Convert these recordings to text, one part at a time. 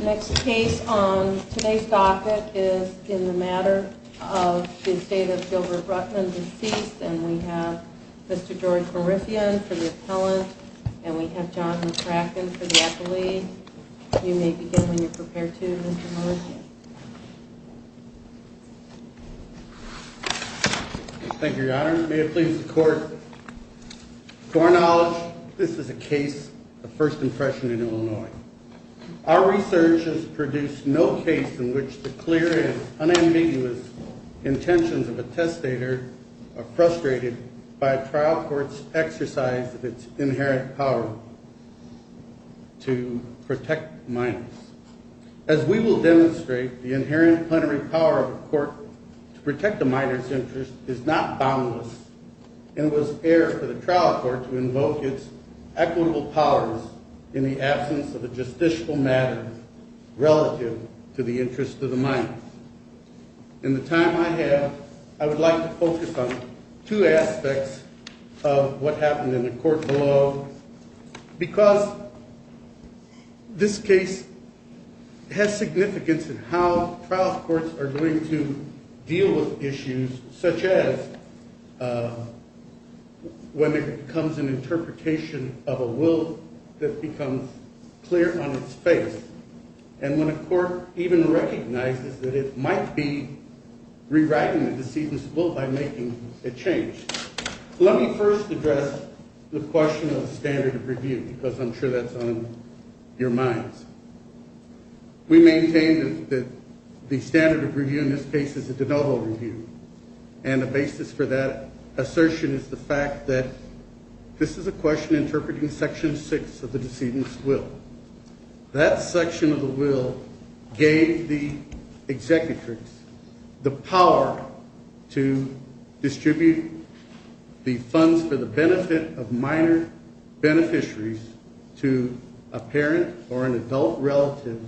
Next case on today's docket is in the matter of the estate of Gilbert Rutman deceased and we have Mr. George Morifian for the appellant and we have John McCracken for the accolade. You may begin when you're prepared to Mr. Morifian. Thank you your honor. May it please the court. To our knowledge this is a case of first impression in Illinois. Our research has produced no case in which the clear and unambiguous intentions of a testator are frustrated by a trial court's exercise of its inherent power to protect minors. As we will demonstrate the trial court to invoke its equitable powers in the absence of a justiciable matter relative to the interest of the minor. In the time I have I would like to focus on two aspects of what happened in the court below because this case has significance in how when it becomes an interpretation of a will that becomes clear on its face and when a court even recognizes that it might be rewriting the deceased's will by making a change. Let me first address the question of standard of review because I'm sure that's on your minds. We maintain that the standard of review in this case is a denotable review and the basis for that assertion is the fact that this is a question interpreting section six of the decedent's will. That section of the will gave the executrix the power to distribute the funds for the benefit of minor beneficiaries to a parent or an adult relative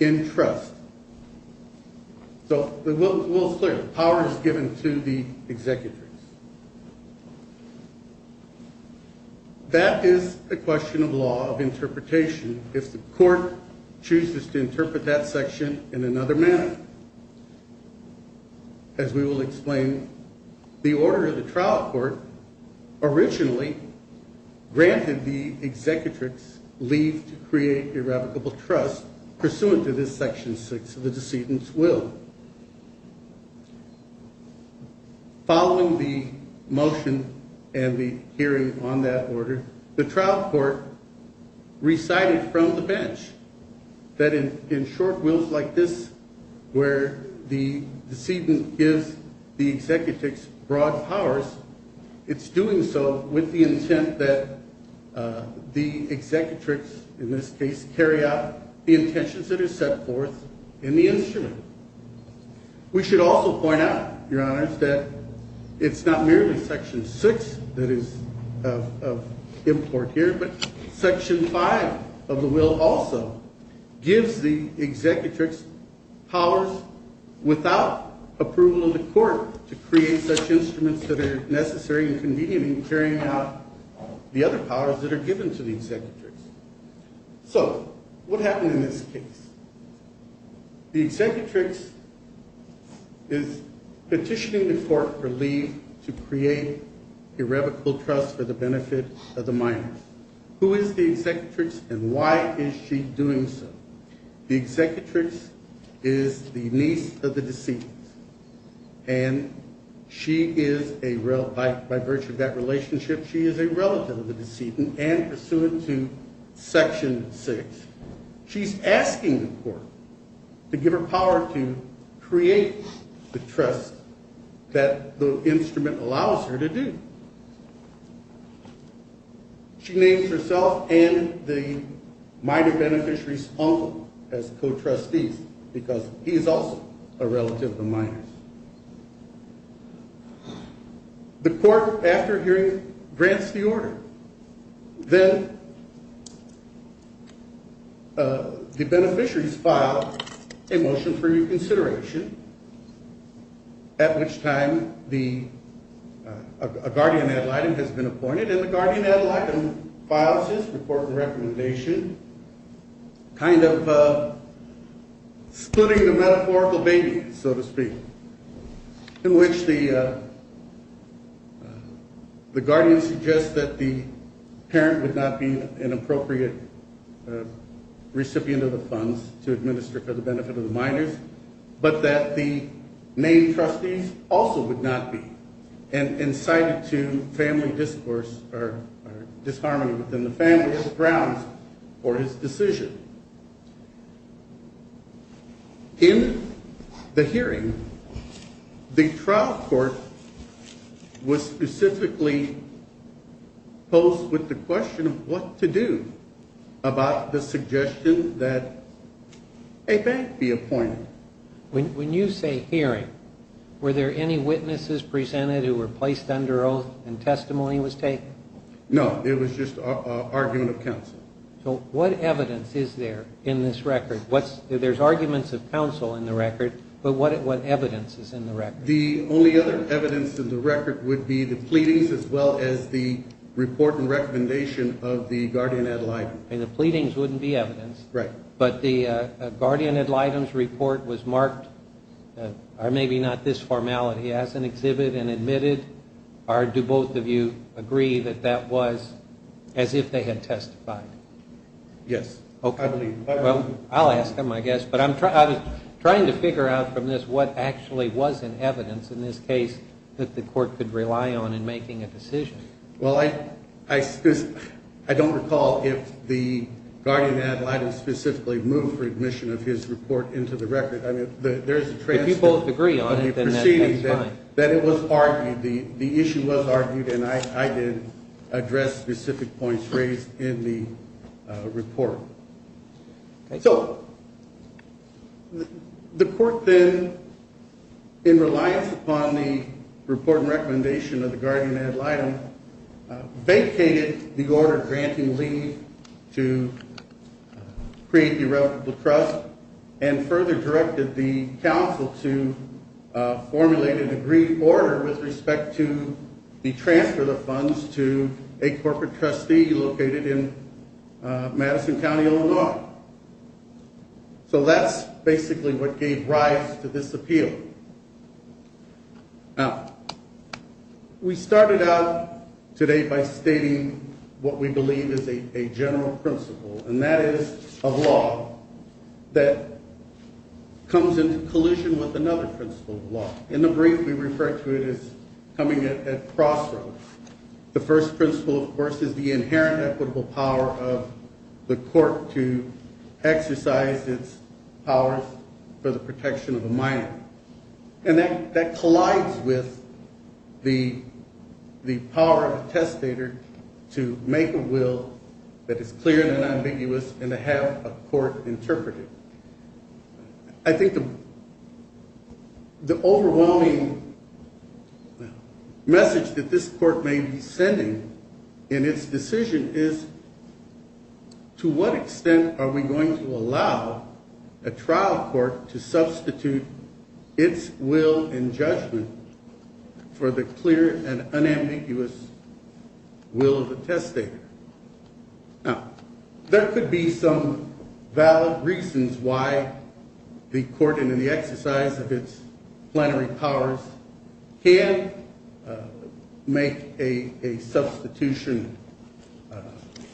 in trust. So the will is clear. The power is given to the executrix. That is a question of law of interpretation if the court chooses to interpret that section in another manner. As we will explain the order of the trial court originally granted the executrix leave to create irrevocable trust pursuant to this section six of the decedent's will. Following the motion and the hearing on that order, the trial court recited from the bench that in short wills like this where the decedent gives the executrix broad powers, it's doing so with the intent that the executrix in this case carry out the intentions that are set forth in the instrument. We should also point out your honors that it's not merely section six that is of import here but section five of the will also gives the executrix powers without approval of the court to create such instruments that are necessary and convenient in carrying out the other powers that are given to the executrix. So what happened in this case? The executrix is petitioning the court for leave to create irrevocable trust for the benefit of the minors. Who is the executrix and why is she doing so? The executrix is the niece of the decedent and by virtue of that relationship she is a relative of the decedent and pursuant to section six. She's asking the court to give her power to create the trust that the instrument allows her to do. She names herself and the minor beneficiaries own as co-trustees because he is a relative of the minors. The court after hearing grants the order. Then the beneficiaries file a motion for reconsideration at which time a guardian ad litem has been appointed and the guardian ad litem files his report and recommendation kind of splitting the metaphorical baby so to speak in which the guardian suggests that the parent would not be an appropriate recipient of the funds to administer for the benefit of the minors but that the main trustees also would not be and incited to family discourse or the hearing the trial court was specifically posed with the question of what to do about the suggestion that a bank be appointed. When you say hearing were there any witnesses presented who were placed under oath and testimony was taken? No it was just an argument of counsel. So what evidence is there in this record? There's arguments of counsel in the record but what evidence is in the record? The only other evidence in the record would be the pleadings as well as the report and recommendation of the guardian ad litem. The pleadings wouldn't be evidence. Right. But the guardian ad litem's report was marked or maybe not this formality as an exhibit and admitted or do both of you agree that that was as if they had testified? Yes. Okay. Well I'll ask them I guess but I'm trying to figure out from this what actually was in evidence in this case that the court could rely on in making a decision. Well I don't recall if the guardian ad litem specifically moved for admission of his report into the record I mean there's a transcript. If you both agree on it then that's fine. That it was argued the report. So the court then in reliance upon the report and recommendation of the guardian ad litem vacated the order granting leave to create irrevocable trust and further directed the council to formulate a degree order with respect to the transfer of funds to a corporate trustee located in Madison County, Illinois. So that's basically what gave rise to this appeal. Now we started out today by stating what we believe is a general principle and that is a law that comes into collusion with another principle of law. In the brief we refer to it as coming at crossroads. The first principle of course is the inherent equitable power of the court to exercise its powers for the protection of a minor and that collides with the power of a testator to make a will that is clear and ambiguous and to have a court interpret it. I think the the overwhelming message that this court may be sending in its decision is to what extent are we going to allow a trial court to substitute its will and judgment for the clear and unambiguous will of the testator. Now there could be some valid reasons why the court and in the exercise of its plenary powers can make a a substitution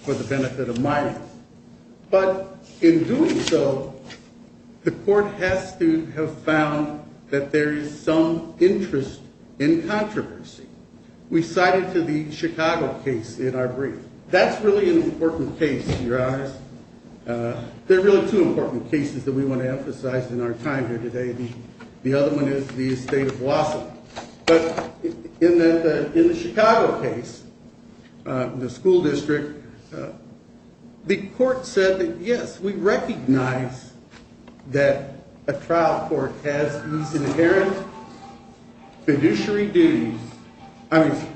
for the benefit of minors but in doing so the court has to have found that there is some interest in controversy. We cited to the Chicago case in our brief. That's really an important case in your eyes. There are really two important cases that we want to emphasize in our time here today. The other one is the estate of Wausau. But in the Chicago case, the school district, the court said that yes we recognize that a trial court has these inherent fiduciary duties. I mean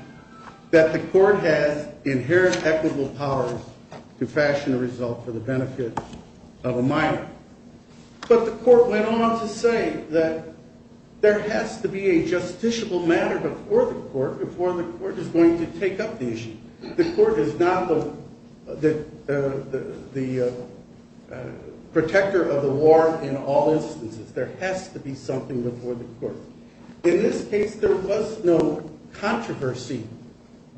that the court has inherent equitable powers to fashion a result for the benefit of a minor. But the court went on to say that there has to be a justiciable matter before the court before the court is going to take up the issue. The court is not the protector of the war in all instances. There has to be something before the court. In this case there was no controversy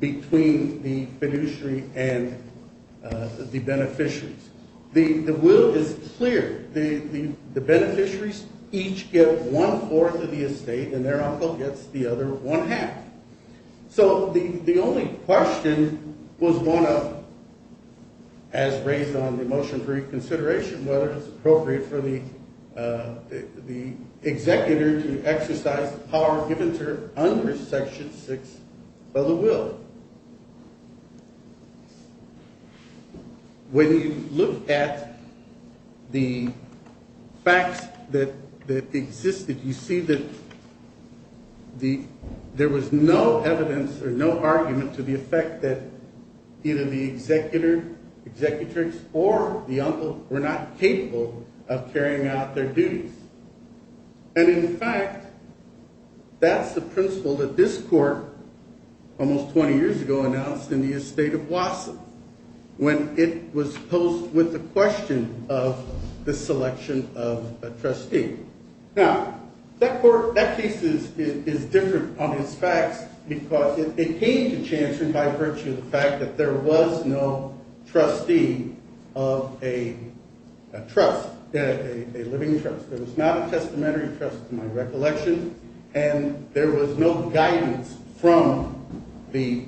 between the fiduciary and the one-fourth of the estate and their uncle gets the other one half. So the the only question was one of as raised on the motion for reconsideration whether it's appropriate for the the executor to exercise the power given to her under section six of the will. When you look at the facts that that existed you see that the there was no evidence or no argument to the effect that either the executor executrix or the uncle were not capable of carrying out their duties. And in fact that's the principle that this court almost 20 years ago announced in the estate of of the selection of a trustee. Now that court that piece is is different on its facts because it came to chanson by virtue of the fact that there was no trustee of a trust a living trust. There was not a testamentary trust to my recollection and there was no guidance from the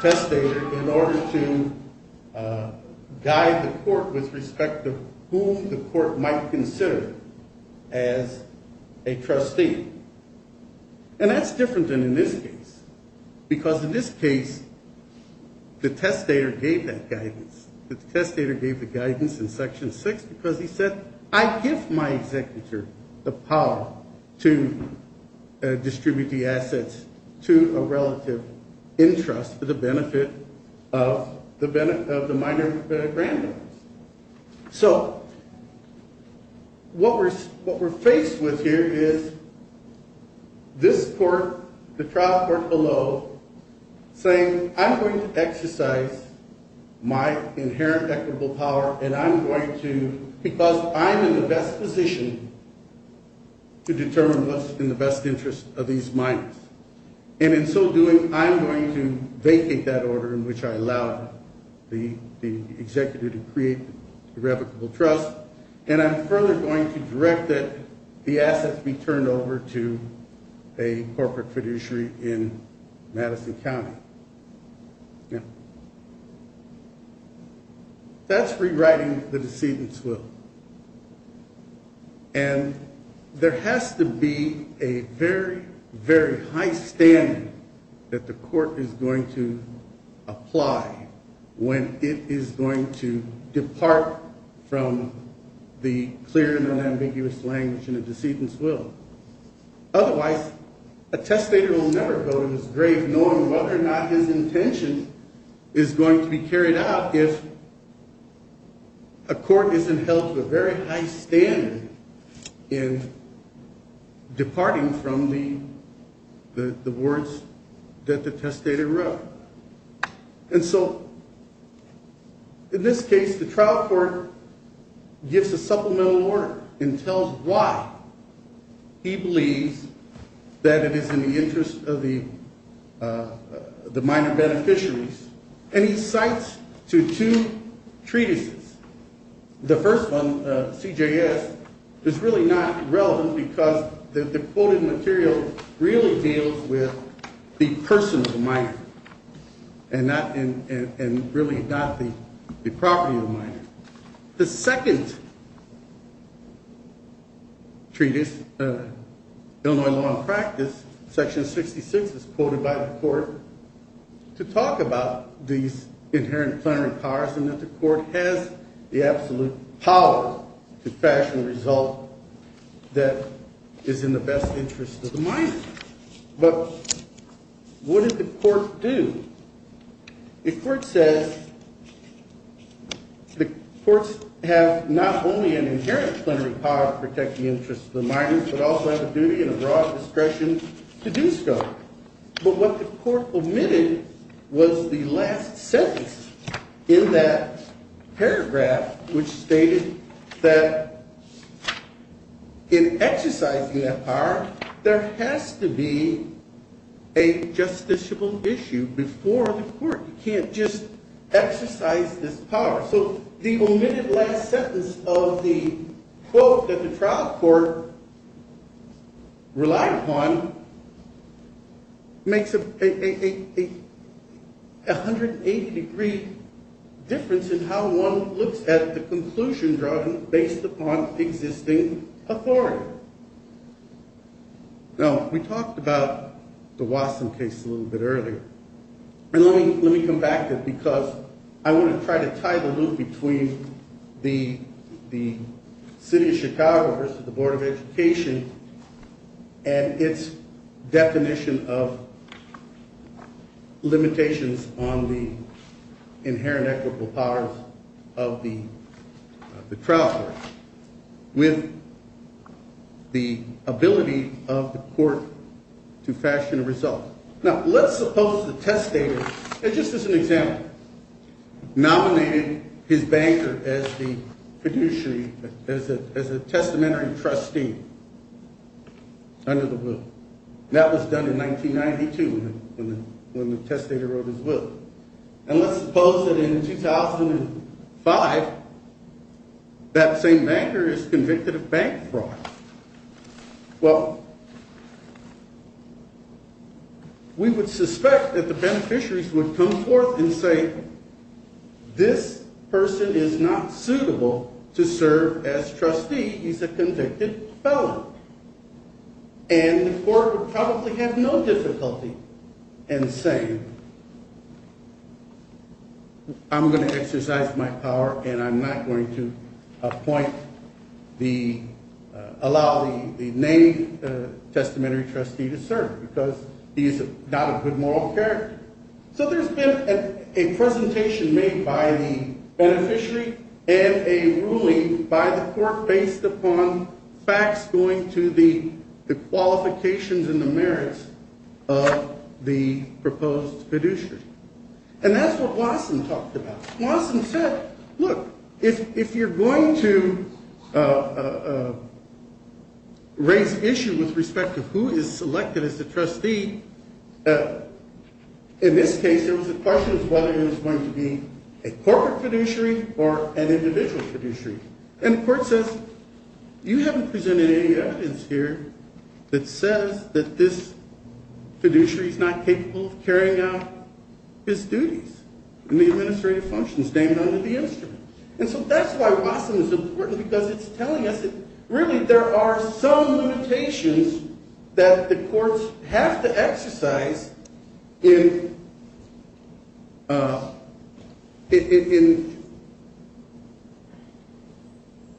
testator in order to guide the court with respect to whom the court might consider as a trustee. And that's different than in this case because in this case the testator gave that guidance. The testator gave the guidance in section six because he said I give my executor the power to distribute the assets to a relative interest for the benefit of the benefit of the minor granddaughters. So what we're what we're faced with here is this court the trial court below saying I'm going to exercise my inherent equitable power and I'm going to because I'm in the best position to determine what's in the best interest of these minors and in so doing I'm going to vacate that order in which I allowed the the executive to create irrevocable trust and I'm further going to direct that the assets be turned over to a corporate fiduciary in Madison County. That's rewriting the decedent's will. And there has to be a very very high standard that the court is going to apply when it is going to a testator will never go to his grave knowing whether or not his intention is going to be carried out if a court isn't held to a very high standard in departing from the the words that the testator wrote. And so in this case the trial court gives a supplemental order and tells why he believes that it is in the interest of the the minor beneficiaries and he cites to two treatises. The first one CJS is really not relevant because the quoted material really deals with the person of the minor and not in and really not the the property of the minor. The second treatise Illinois Law and Practice section 66 is quoted by the court to talk about these inherent plenary powers and that the court has the absolute power to fashion a result that is in the best interest of the minor. But what did the court do? The court says that the courts have not only an inherent plenary power to protect the interests of the minors but also have a duty and a broad discretion to do so. But what the court omitted was the last sentence in that paragraph which stated that in exercising that power there has to be a justiciable issue before the court. You can't just exercise this power. So the omitted last sentence of the quote that the trial court relied upon makes a 180 degree difference in how one looks at the conclusion drawn based upon existing authority. Now we talked about the Watson case a little bit earlier and let me let me come back to it because I want to try to tie the loop between the the city of Chicago versus the board of education and its definition of limitations on the inherent equitable powers of the the trial court with the ability of the court to fashion a result. Now let's suppose the testator just as an example nominated his banker as the fiduciary as a as a testamentary trustee under the will. That was done in 1992 when the testator wrote his will. And let's suppose that in 2005 that same banker is convicted of bank fraud. Well we would suspect that the beneficiaries would come forth and say this person is not suitable to serve as trustee. He's a convicted felon and the court would probably have no difficulty in saying I'm going to exercise my power and I'm not going to appoint the allow the the name testamentary trustee to serve because he's not a good moral character. So there's been a presentation made by the beneficiary and a ruling by the court based upon facts going to the Watson said look if if you're going to raise issue with respect to who is selected as the trustee in this case there was a question of whether it was going to be a corporate fiduciary or an individual fiduciary. And the court says you haven't presented any evidence here that says that this function is named under the instrument. And so that's why Watson is important because it's telling us that really there are some limitations that the courts have to exercise in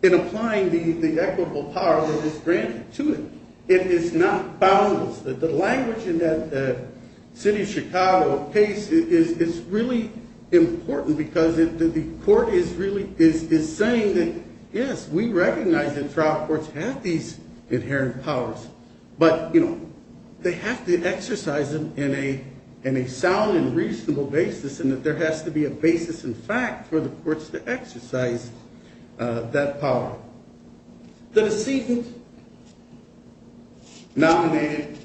in applying the equitable power that is granted to it. It is not boundless. The language in that Chicago case is really important because the court is really is saying that yes we recognize that trial courts have these inherent powers but you know they have to exercise them in a in a sound and reasonable basis and that there has to be a basis in fact for the courts to exercise that power. The decedent nominated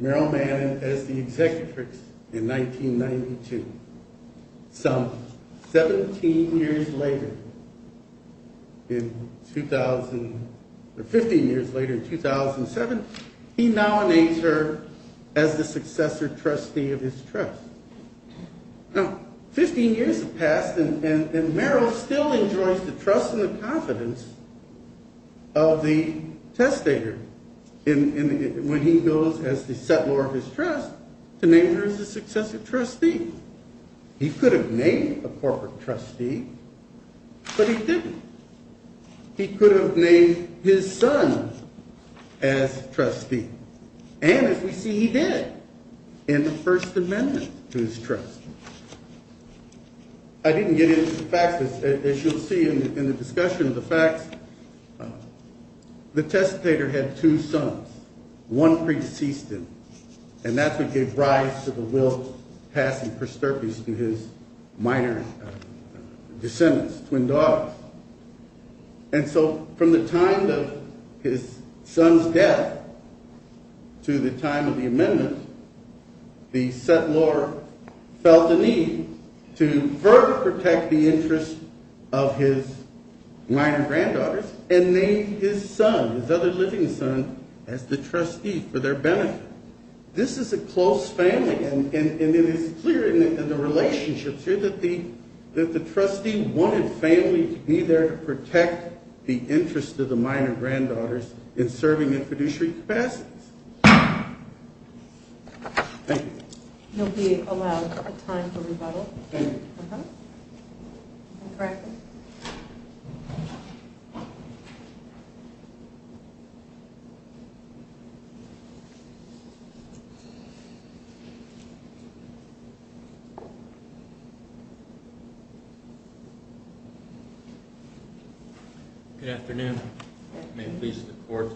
Meryl Manning as the executrix in 1992. Some 17 years later in 2000 or 15 years later in 2007 he now names her as the successor trustee of his trust. Now 15 years have passed and Meryl still enjoys the trust and the confidence of the testator when he goes as the settlor of his trust to name her as the successor trustee. He could have named a corporate trustee but he didn't. He could have named his son as trustee and as we see he did in the first amendment to his trust. I didn't get into the facts as you'll see in the discussion of the facts the testator had two sons. One pre-deceased him and that's what gave rise to the will passing prosterpies to his minor descendants, twin daughters. And so from the time his son's death to the time of the amendment the settlor felt the need to further protect the interest of his minor granddaughters and named his son, his other living son, as the trustee for their benefit. This is a close family and it is clear in the relationships here that the trustee wanted family to be there to protect the interest of the minor granddaughters in serving in fiduciary capacities. Thank you. You'll be allowed a time for rebuttal. Good afternoon. May it please the court.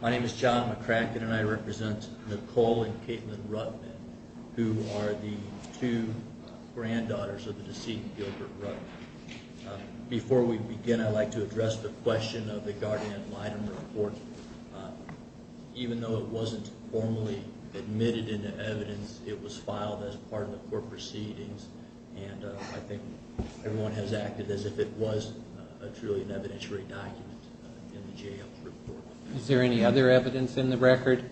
My name is John McCracken and I represent Nicole and Caitlin Rutman who are the two granddaughters of the deceased Gilbert Rutman. Before we begin I'd like to address the question of the guardian ad litem report. Even though it wasn't formally admitted into evidence it was filed as part of the court proceedings and I think everyone has acted as if it was truly an evidentiary document. Is there any other evidence in the record?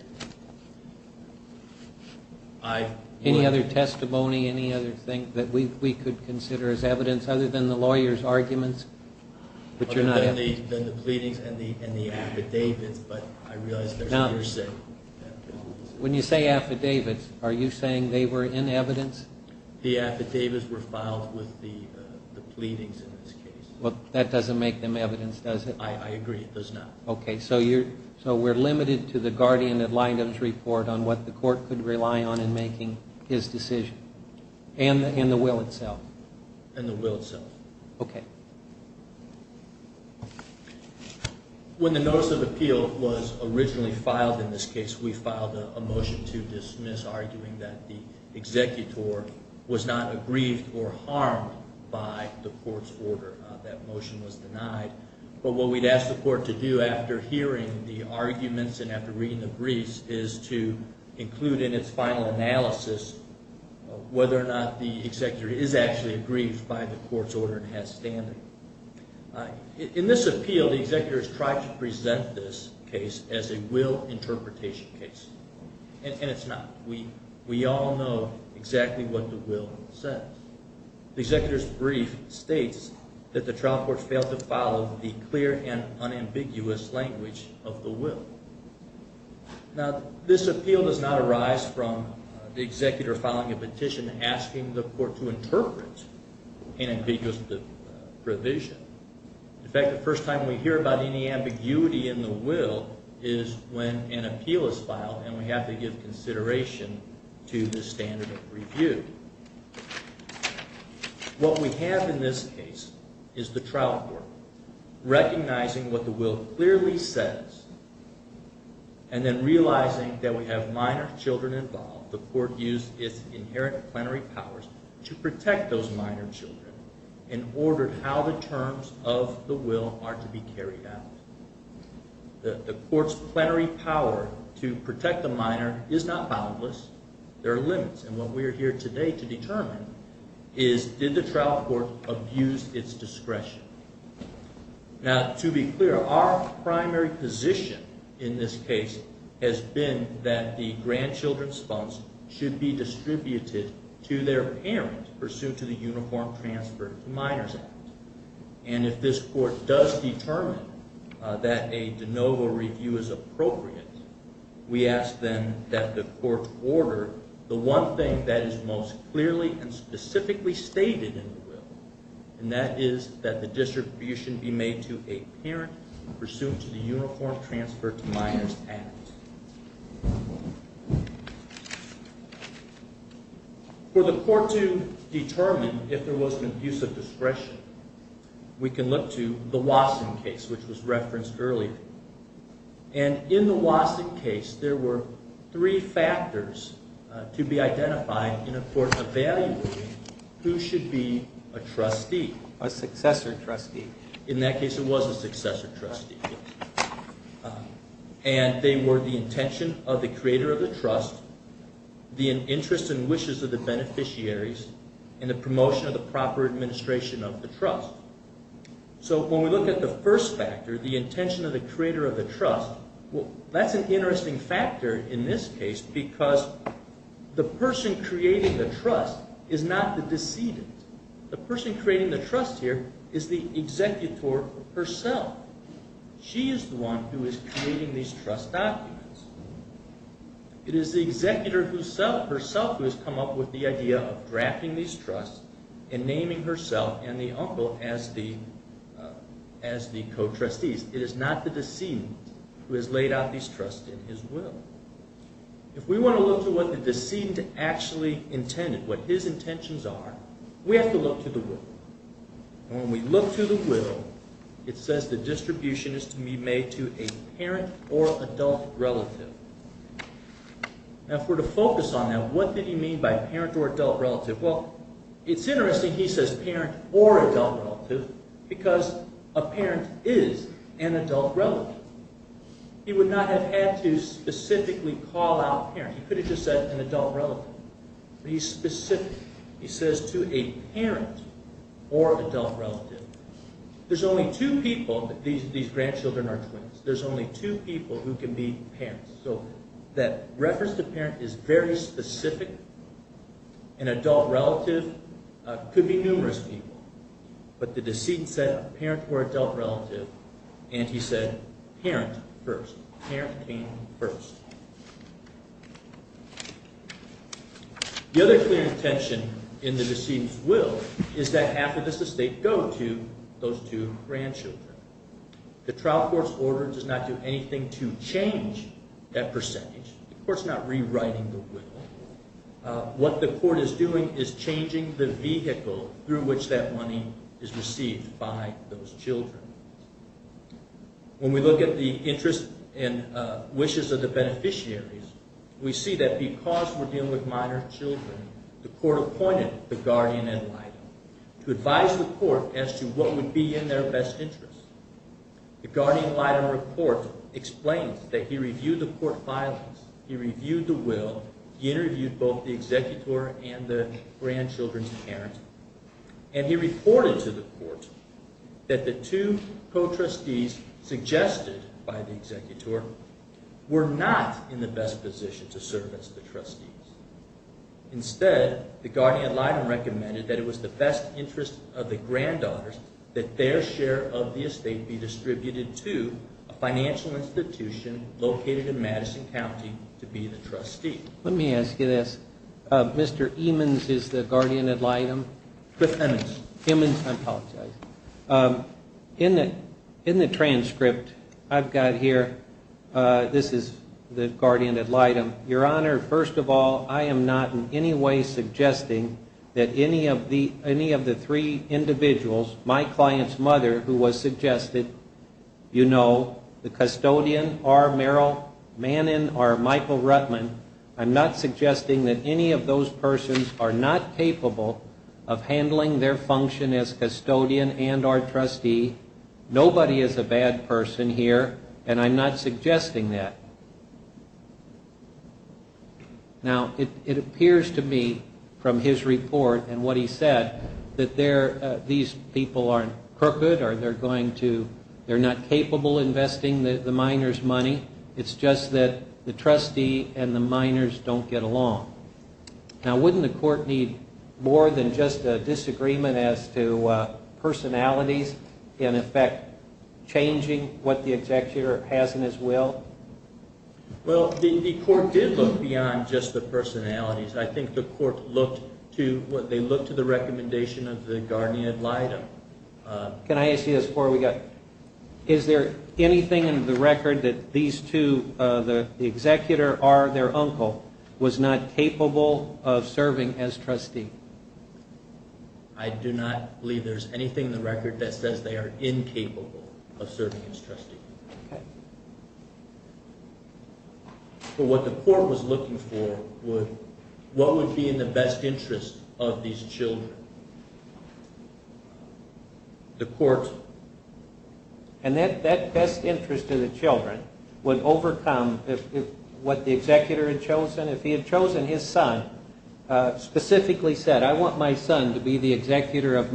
Any other testimony, any other thing that we could consider as evidence other than the lawyer's arguments? Other than the pleadings and the affidavits. When you say affidavits are you saying they were in evidence? The affidavits were filed with the pleadings in this case. Well that doesn't make them evidence does it? I agree it does not. Okay so we're limited to the guardian ad litems report on what the court could rely on in making his decision and the will itself. And the will itself. Okay. When the notice of appeal was originally filed in this case we filed a motion to dismiss arguing that the executor was not aggrieved or harmed by the court's order. That motion was denied. But what we'd ask the court to do after hearing the arguments and after reading the briefs is to include in its final analysis whether or not the executor is actually aggrieved by the court's order and has standing. In this appeal the executor has tried to present this case as a interpretation case. And it's not. We all know exactly what the will says. The executor's brief states that the trial court failed to follow the clear and unambiguous language of the will. Now this appeal does not arise from the executor filing a petition asking the court to interpret an ambiguous provision. In fact the first time we hear about any ambiguity in the will is when an appeal is filed and we have to give consideration to the standard of review. What we have in this case is the trial court recognizing what the will clearly says and then realizing that we have minor children involved. The court used its inherent plenary powers to protect those minor children and ordered how the terms of the will are to be carried out. The court's plenary power to protect the minor is not boundless. There are limits and what we are here today to determine is did the trial court abuse its discretion. Now to be clear our primary position in this case has been that the grandchildren's funds should be distributed to their parents pursuant to the Uniform Transfer to Minors Act. And if this court does determine that a de novo review is appropriate, we ask then that the court order the one thing that is most clearly and specifically stated in the will and that is that the distribution be made to a parent pursuant to the Uniform Transfer to Minors Act. For the court to determine if there was an abuse of discretion, we can look to the Wasson case which was referenced earlier. And in the Wasson case there were three factors to be identified for evaluating who should be a trustee. A successor trustee. In that case it was a successor trustee. And they were the intention of the creator of the trust. So when we look at the first factor, the intention of the creator of the trust, that's an interesting factor in this case because the person creating the trust is not the decedent. The person creating the trust here is the executor herself. She is the one who is creating these trust documents. It is the executor herself who has come up with the idea of drafting these trusts and naming herself and the uncle as the co-trustees. It is not the decedent who has laid out these trusts in his will. If we want to look to what the decedent actually intended, what his intentions are, we have to look to the will. And when we look to the will, it says the distribution is to be made to a parent or adult relative. Now if we're to focus on that, what did he mean by parent or adult relative? Because a parent is an adult relative. He would not have had to specifically call out a parent. He could have just said an adult relative. But he's specific. He says to a parent or adult relative. There's only two people, these grandchildren are twins, there's only two people who can be parents. So that reference to parent is very specific. An adult relative could be numerous people. But the decedent said a parent or adult relative and he said parent first. Parent came first. The other clear intention in the decedent's will is that half of this estate go to those two grandchildren. The trial court's order does not do anything to change that percentage. The court's not rewriting the will. What the court is doing is changing the vehicle through which that money is received by those children. When we look at the interest and wishes of the beneficiaries, we see that because we're dealing with minor children, the court appointed the guardian ad litem to advise the court as to what would be in their best interest. The guardian ad litem report explains that he reviewed the court filings, he reviewed the will, he interviewed both the executor and the grandchildren's parent, and he reported to the court that the two co-trustees suggested by the executor were not in the best position to serve as the trustees. Instead, the guardian ad litem recommended that it was the best interest of the granddaughters that their share of the estate be distributed to a financial institution located in Madison County to be the trustee. Let me ask you this. Mr. Emmons is the guardian ad litem? Cliff Emmons. Emmons, I apologize. In the transcript I've got here, this is the guardian ad litem. Your Honor, first of all, I am not in any way suggesting that any of the three individuals, my client's mother, who was suggested, you know, the custodian, R. Mannon, or Michael Rutman, I'm not suggesting that any of those persons are not capable of handling their function as custodian and or trustee. Nobody is a bad person here, and I'm not suggesting that. Now, it appears to me from his report and what he said that these people aren't crooked or they're going to, they're not capable investing the miners' money. It's just that the trustee and the miners don't get along. Now, wouldn't the court need more than just a disagreement as to personalities in effect changing what the executor has in his will? Well, the court did look beyond just the personalities. I think the court looked to, they looked to the recommendation of the guardian ad litem. Can I ask you this before we go? Is there anything in the record that these two, the executor, R, their uncle, was not capable of serving as trustee? I do not believe there's anything in the record that says they are incapable of serving as trustee. But what the court was looking for was what would be in the best interest of these children? The court. And that best interest of the children would overcome what the executor had chosen. If he had chosen his son, specifically said, I want my son to be the executor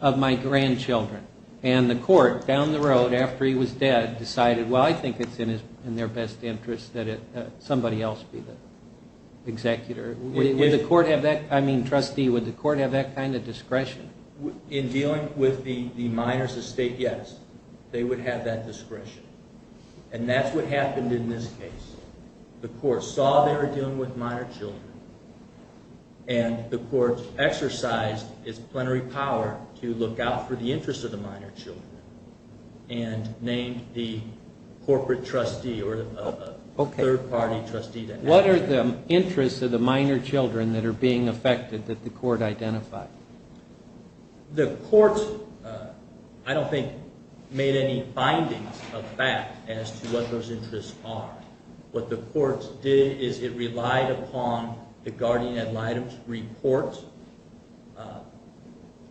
of my grandchildren. And the court, down the road, after he was dead, decided, well, I think it's in their best interest that somebody else be the executor. Would the court have that, I mean, trustee, would the court have that kind of discretion? In dealing with the miners' estate, yes. They would have that discretion. And that's what happened in this case. The court saw they were dealing with minor children. And the court exercised its plenary power to look out for the interests of the minor children. And named the corporate trustee, or a third-party trustee. What are the interests of the minor children that are being affected that the court identified? The court, I don't think, made any findings of fact as to what those interests are. What the court did is it relied upon the guardian ad litem's report.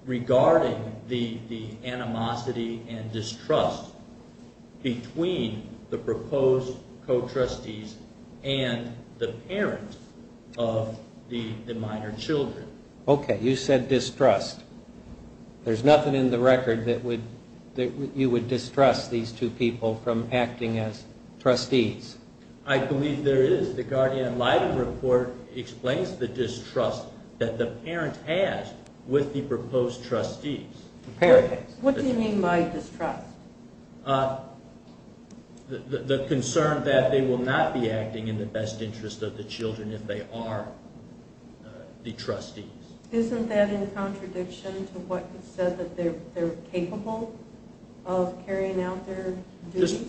Regarding the animosity and distrust between the proposed co-trustees and the parents of the minor children. Okay, you said distrust. There's nothing in the record that you would distrust these two people from acting as trustees. I believe there is. The guardian ad litem report explains the distrust that the parent has with the proposed trustees. What do you mean by distrust? The concern that they will not be acting in the best interest of the children if they are the trustees. Isn't that in contradiction to what you said that they're capable of carrying out their duties?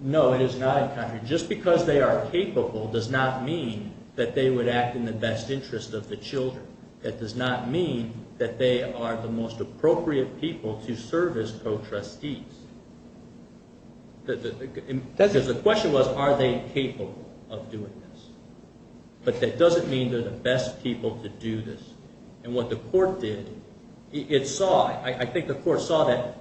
No, it is not in contradiction. Just because they are capable does not mean that they would act in the best interest of the children. That does not mean that they are the most appropriate people to serve as co-trustees. The question was, are they capable of doing this? But that doesn't mean they're the best people to do this. And what the court did, it saw, I think the court saw that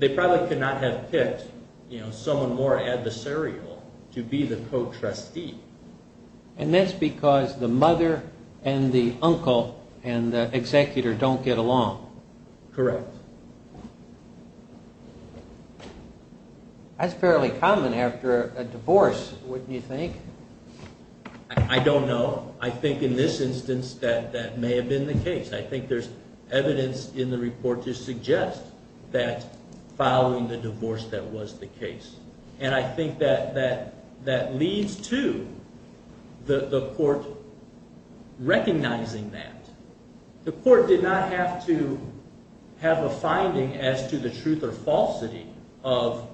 they probably could not have picked, you know, someone more adversarial to be the co-trustee. And that's because the mother and the uncle and the executor don't get along. Correct. That's fairly common after a divorce, wouldn't you think? I don't know. I think in this instance that that may have been the case. I think there's evidence in the report to suggest that following the divorce that was the case. And I think that that leads to the court recognizing that. The court did not have to have a finding as to the truth or falsity of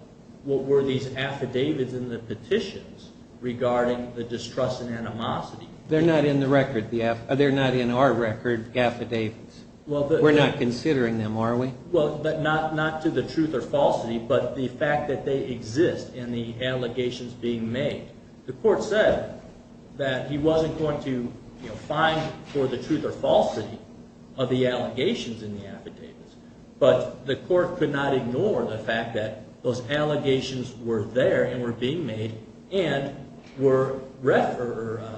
what were these affidavits in the petitions regarding the distrust and animosity. They're not in the record. They're not in our record affidavits. We're not considering them, are we? Well, but not to the truth or falsity, but the fact that they exist in the allegations being made. The court said that he wasn't going to, you know, find for the truth or falsity of the allegations in the affidavits. But the court could not ignore the fact that those allegations were there and were being made and were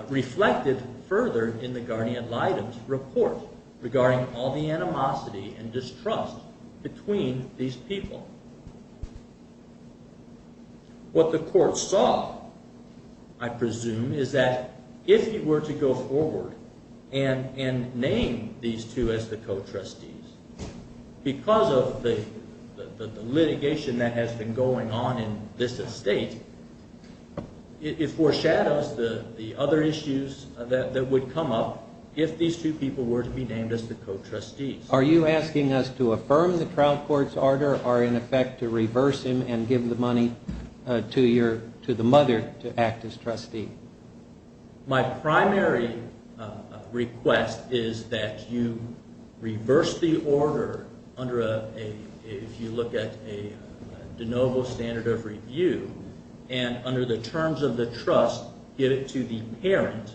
reflected further in the guardian litem's report regarding all the animosity and distrust between these people. What the court saw, I presume, is that if he were to go forward and name these two as the co-trustees, because of the litigation that has been going on in this estate, it foreshadows the other issues that would come up if these two were to be named as the co-trustees. Are you asking us to affirm the trial court's order or in effect to reverse him and give the money to the mother to act as trustee? My primary request is that you reverse the order under a, if you look at a de novo standard of review, and under the terms of the trust, give it to the parent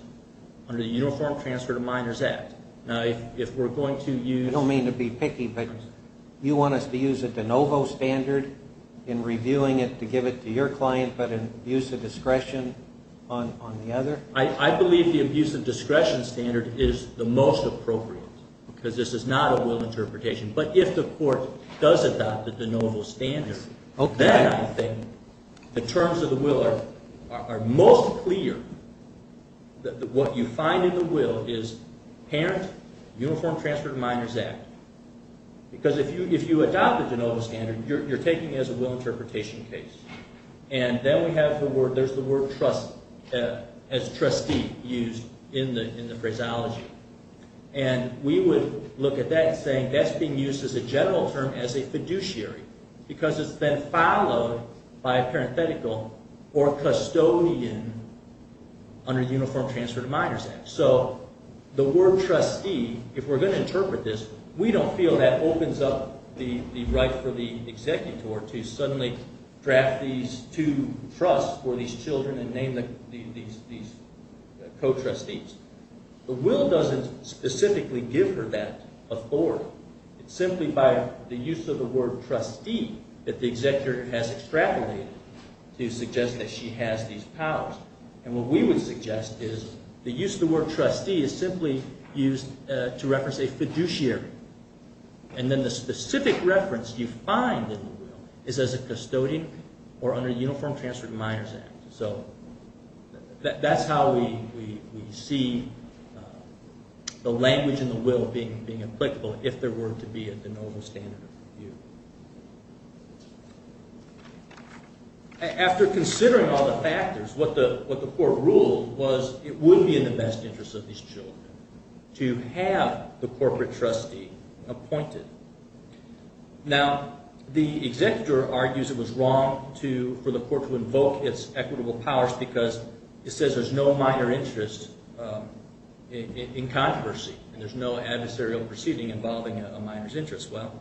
under the Uniform Transfer to Minors Act. Now, if we're going to use... I don't mean to be picky, but you want us to use a de novo standard in reviewing it to give it to your client, but in abuse of discretion on the other? I believe the abuse of discretion standard is the most appropriate, because this is not a will interpretation. But if the court does adopt a de novo standard, then I think the terms of the will are most clear. What you find in the will is parent, Uniform Transfer to Minors Act. Because if you adopt a de novo standard, you're taking it as a will interpretation case. And then we have the word, there's the word trustee used in the phraseology. And we would look at that and say that's being used as a general term as a fiduciary, because it's been followed by a parenthetical or custodian under the Uniform Transfer to Minors Act. So the word trustee, if we're going to interpret this, we don't feel that opens up the right for the executor to suddenly draft these two trusts for these children and name them these co-trustees. The will doesn't specifically give her that authority. It's simply by the use of the word trustee that the executor has extrapolated to suggest that she has these powers. And what we would suggest is the use of the word trustee is simply used to reference a fiduciary. And then the specific reference you find in the will is as a custodian or under Uniform Transfer to Minors Act. So that's how we see the language in the if there were to be a de novo standard of review. After considering all the factors, what the court ruled was it would be in the best interest of these children to have the corporate trustee appointed. Now, the executor argues it was wrong for the court to invoke its equitable powers because it says there's no minor interest in controversy and there's no adversarial proceeding involving a minor's interest. Well,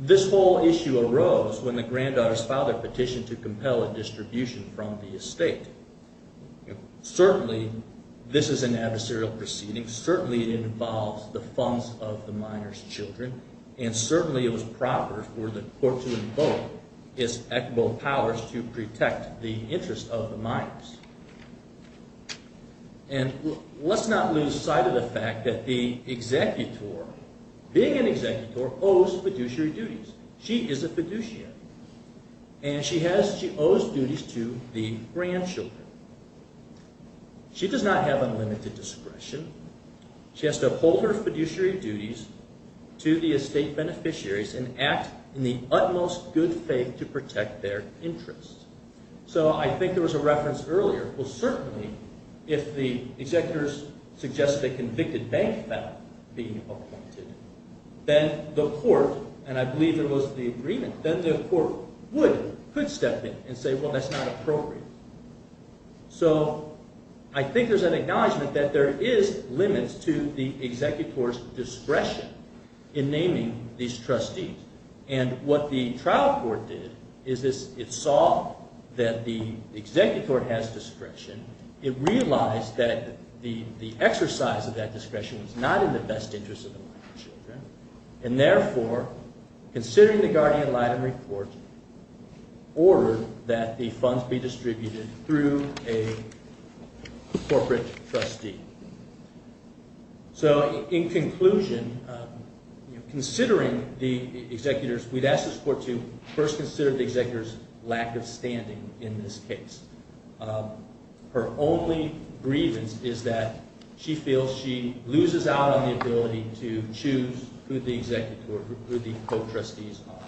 this whole issue arose when the granddaughter's father petitioned to compel a distribution from the estate. Certainly, this is an adversarial proceeding. Certainly, it involves the funds of the minor's children. And certainly, it was proper for the court to invoke its equitable powers to protect the interest of the minors. And let's not lose sight of the fact that the executor, being an executor, owes fiduciary duties. She is a fiduciary. And she owes duties to the grandchildren. She does not have unlimited discretion. She has to uphold her fiduciary duties to the estate beneficiaries and act in the utmost good faith to protect their interests. So I think there was a reference earlier. Well, certainly, if the executors suggested a convicted bank felon being appointed, then the court, and I believe there was the agreement, then the court would, could step in and say, well, that's not appropriate. So I think there's an acknowledgment that there is limits to the executor's discretion in naming these trustees. And what the trial court did is it saw that the executor has discretion. It realized that the exercise of that discretion was not in the best interest of the minor's children. And therefore, considering the Guardian-Lytton report, ordered that the funds be distributed through a corporate trustee. So in conclusion, considering the executors, we'd ask this court to first consider the executor's lack of standing in this case. Her only grievance is that she feels she loses out on the ability to choose who the executor, who the co-trustees are.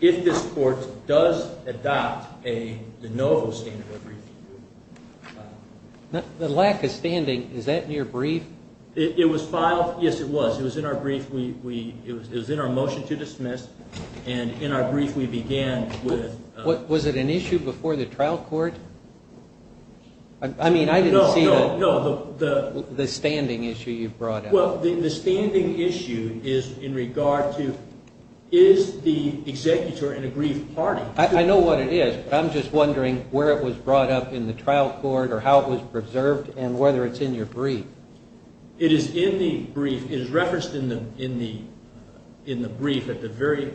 If this court does adopt a de novo standard of review. The lack of standing, is that in your brief? It was filed. Yes, it was. It was in our brief. It was in our motion to dismiss. And in our brief, we began with... Was it an issue before the trial court? I mean, I didn't see the standing issue you brought up. Well, the standing issue is in regard to, is the executor in a brief party? I know what it is, but I'm just wondering where it was brought up in the trial court or how it was preserved and whether it's in your brief. It is in the brief. It is referenced in the brief at the very...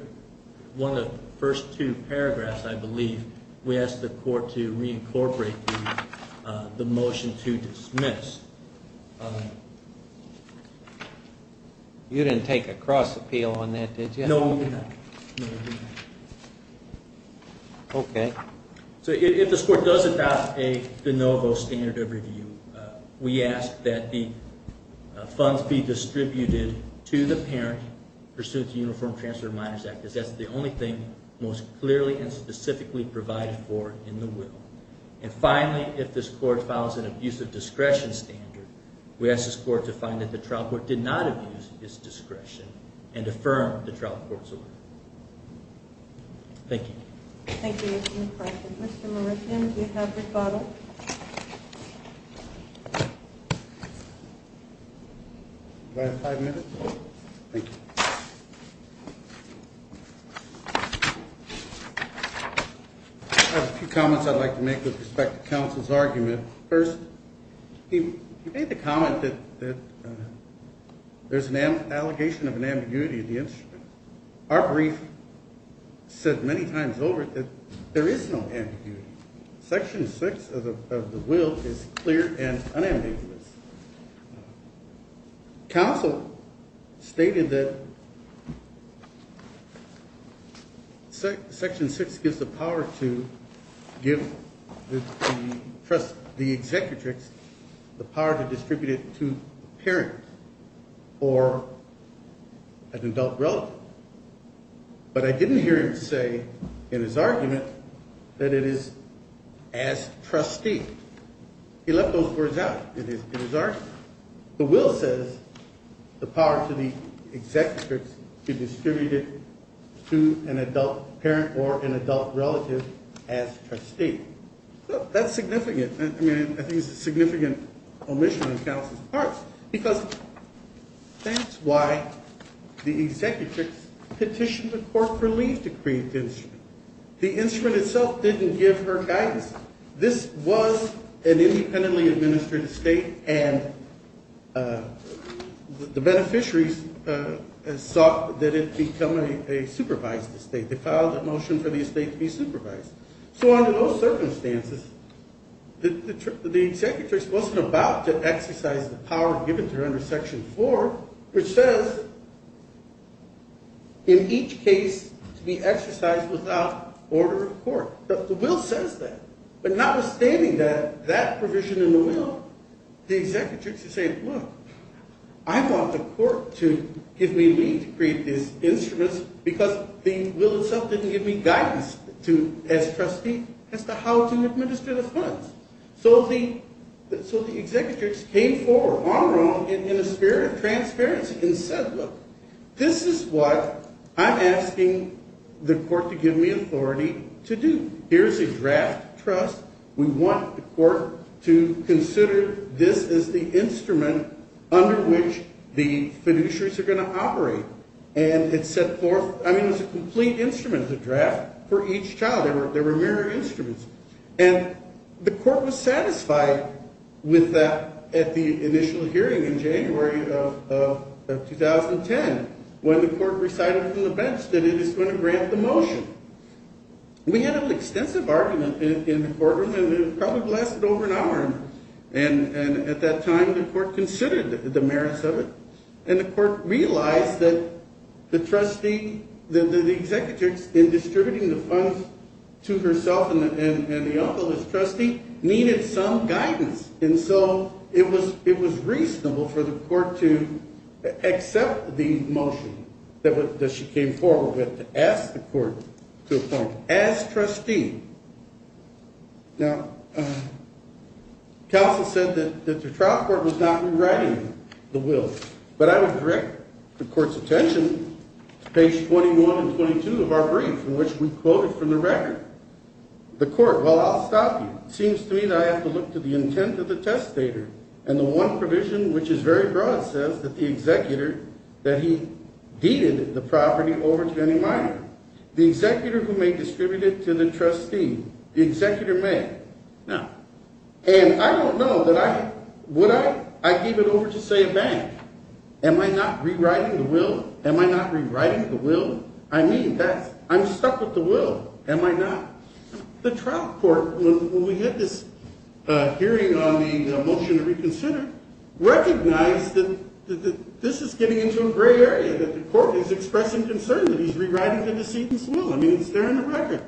One of the first two paragraphs, I believe, we asked the court to reincorporate the motion to dismiss. You didn't take a cross appeal on that, did you? No, we did not. Okay. So if this court does adopt a de novo standard of review, we ask that the trial court do not abuse its discretion and affirm the trial court's order. Thank you. Thank you, Mr. McPartland. Mr. Mauritian, do you have rebuttal? Do I have five minutes? Thank you. I have a few comments I'd like to make with respect to counsel's argument. First, he made the comment that there's an allegation of an ambiguity of the instrument. Our brief said many times over that there is no ambiguity. Section six of the will is clear and unambiguous. Counsel stated that section six gives the power to give the executrix the power to distribute it to the parent or an adult relative. But I didn't hear him say in his argument that it is as trustee. He left those words out in his argument. The will says the power to the executrix to distribute it to an adult parent or an adult relative as trustee. That's significant. I mean, that's why the executrix petitioned the court for leave to create the instrument. The instrument itself didn't give her guidance. This was an independently administered estate, and the beneficiaries sought that it become a supervised estate. They filed a motion for the estate to be supervised. So under those circumstances, the executrix wasn't about to for which says in each case to be exercised without order of court. The will says that. But notwithstanding that provision in the will, the executrix is saying, look, I want the court to give me leave to create these instruments because the will itself didn't give me guidance as trustee as to how to administer the funds. So the executrix came forward long in the spirit of transparency and said, look, this is what I'm asking the court to give me authority to do. Here's a draft trust. We want the court to consider this as the instrument under which the fiduciaries are going to operate. And it set forth, I mean, it's a complete instrument, the draft for each child. There were there were mirror instruments. And the court was hearing in January of 2010 when the court recited from the bench that it is going to grant the motion. We had an extensive argument in the courtroom, and it probably lasted over an hour. And at that time, the court considered the merits of it. And the court realized that the trustee, that the executrix in distributing the funds to herself and the uncle as trustee needed some guidance. And so it was it was reasonable for the court to accept the motion that she came forward with to ask the court to appoint as trustee. Now, counsel said that the trial court was not rewriting the will, but I would direct the court's attention to page 21 and 22 of our brief in which we quoted from the record. The court, well, I'll stop you. It seems to me that I have to look to the intent of the testator. And the one provision which is very broad says that the executor, that he deeded the property over to any minor. The executor who may distribute it to the trustee, the executor may. Now, and I don't know that I would I give it over to, say, a bank. Am I not rewriting the will? Am I not The trial court, when we had this hearing on the motion to reconsider, recognized that this is getting into a gray area, that the court is expressing concern that he's rewriting the decedent's will. I mean, it's there in the record.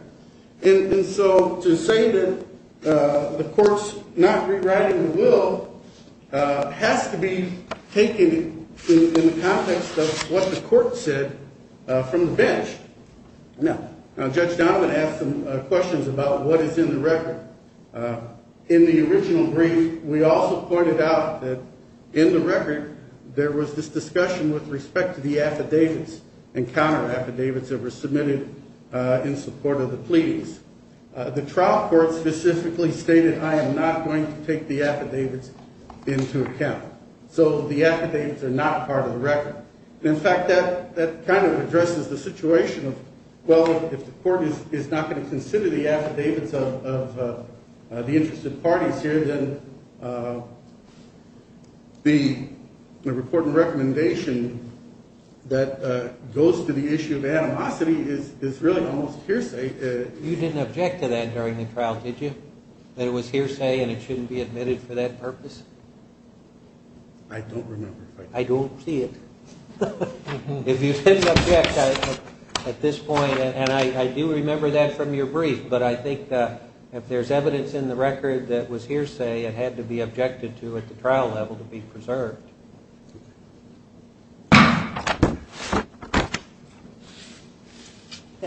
And so to say that the court's not rewriting the will has to be taken in the context of what the court said from the bench. Now, Judge Donovan asked some questions about what is in the record. In the original brief, we also pointed out that in the record, there was this discussion with respect to the affidavits and counter affidavits that were submitted in support of the pleadings. The trial court specifically stated, I am not going to take the affidavits into account. So the affidavits are not part of the record. In fact, that kind of addresses the situation of, well, if the court is not going to consider the affidavits of the interested parties here, then the report and recommendation that goes to the issue of animosity is really almost hearsay. You didn't object to that during the trial, did you? That it was hearsay and it shouldn't be admitted for that purpose? I don't remember. I don't see it. If you didn't object at this point, and I do remember that from your brief, but I think if there's evidence in the record that was hearsay, it had to be objected to at the trial level to be preserved. That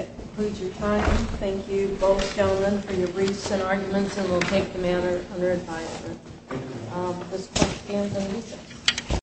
concludes your time. Thank you, both gentlemen, for your briefs and arguments, and we'll take the matter under advisement.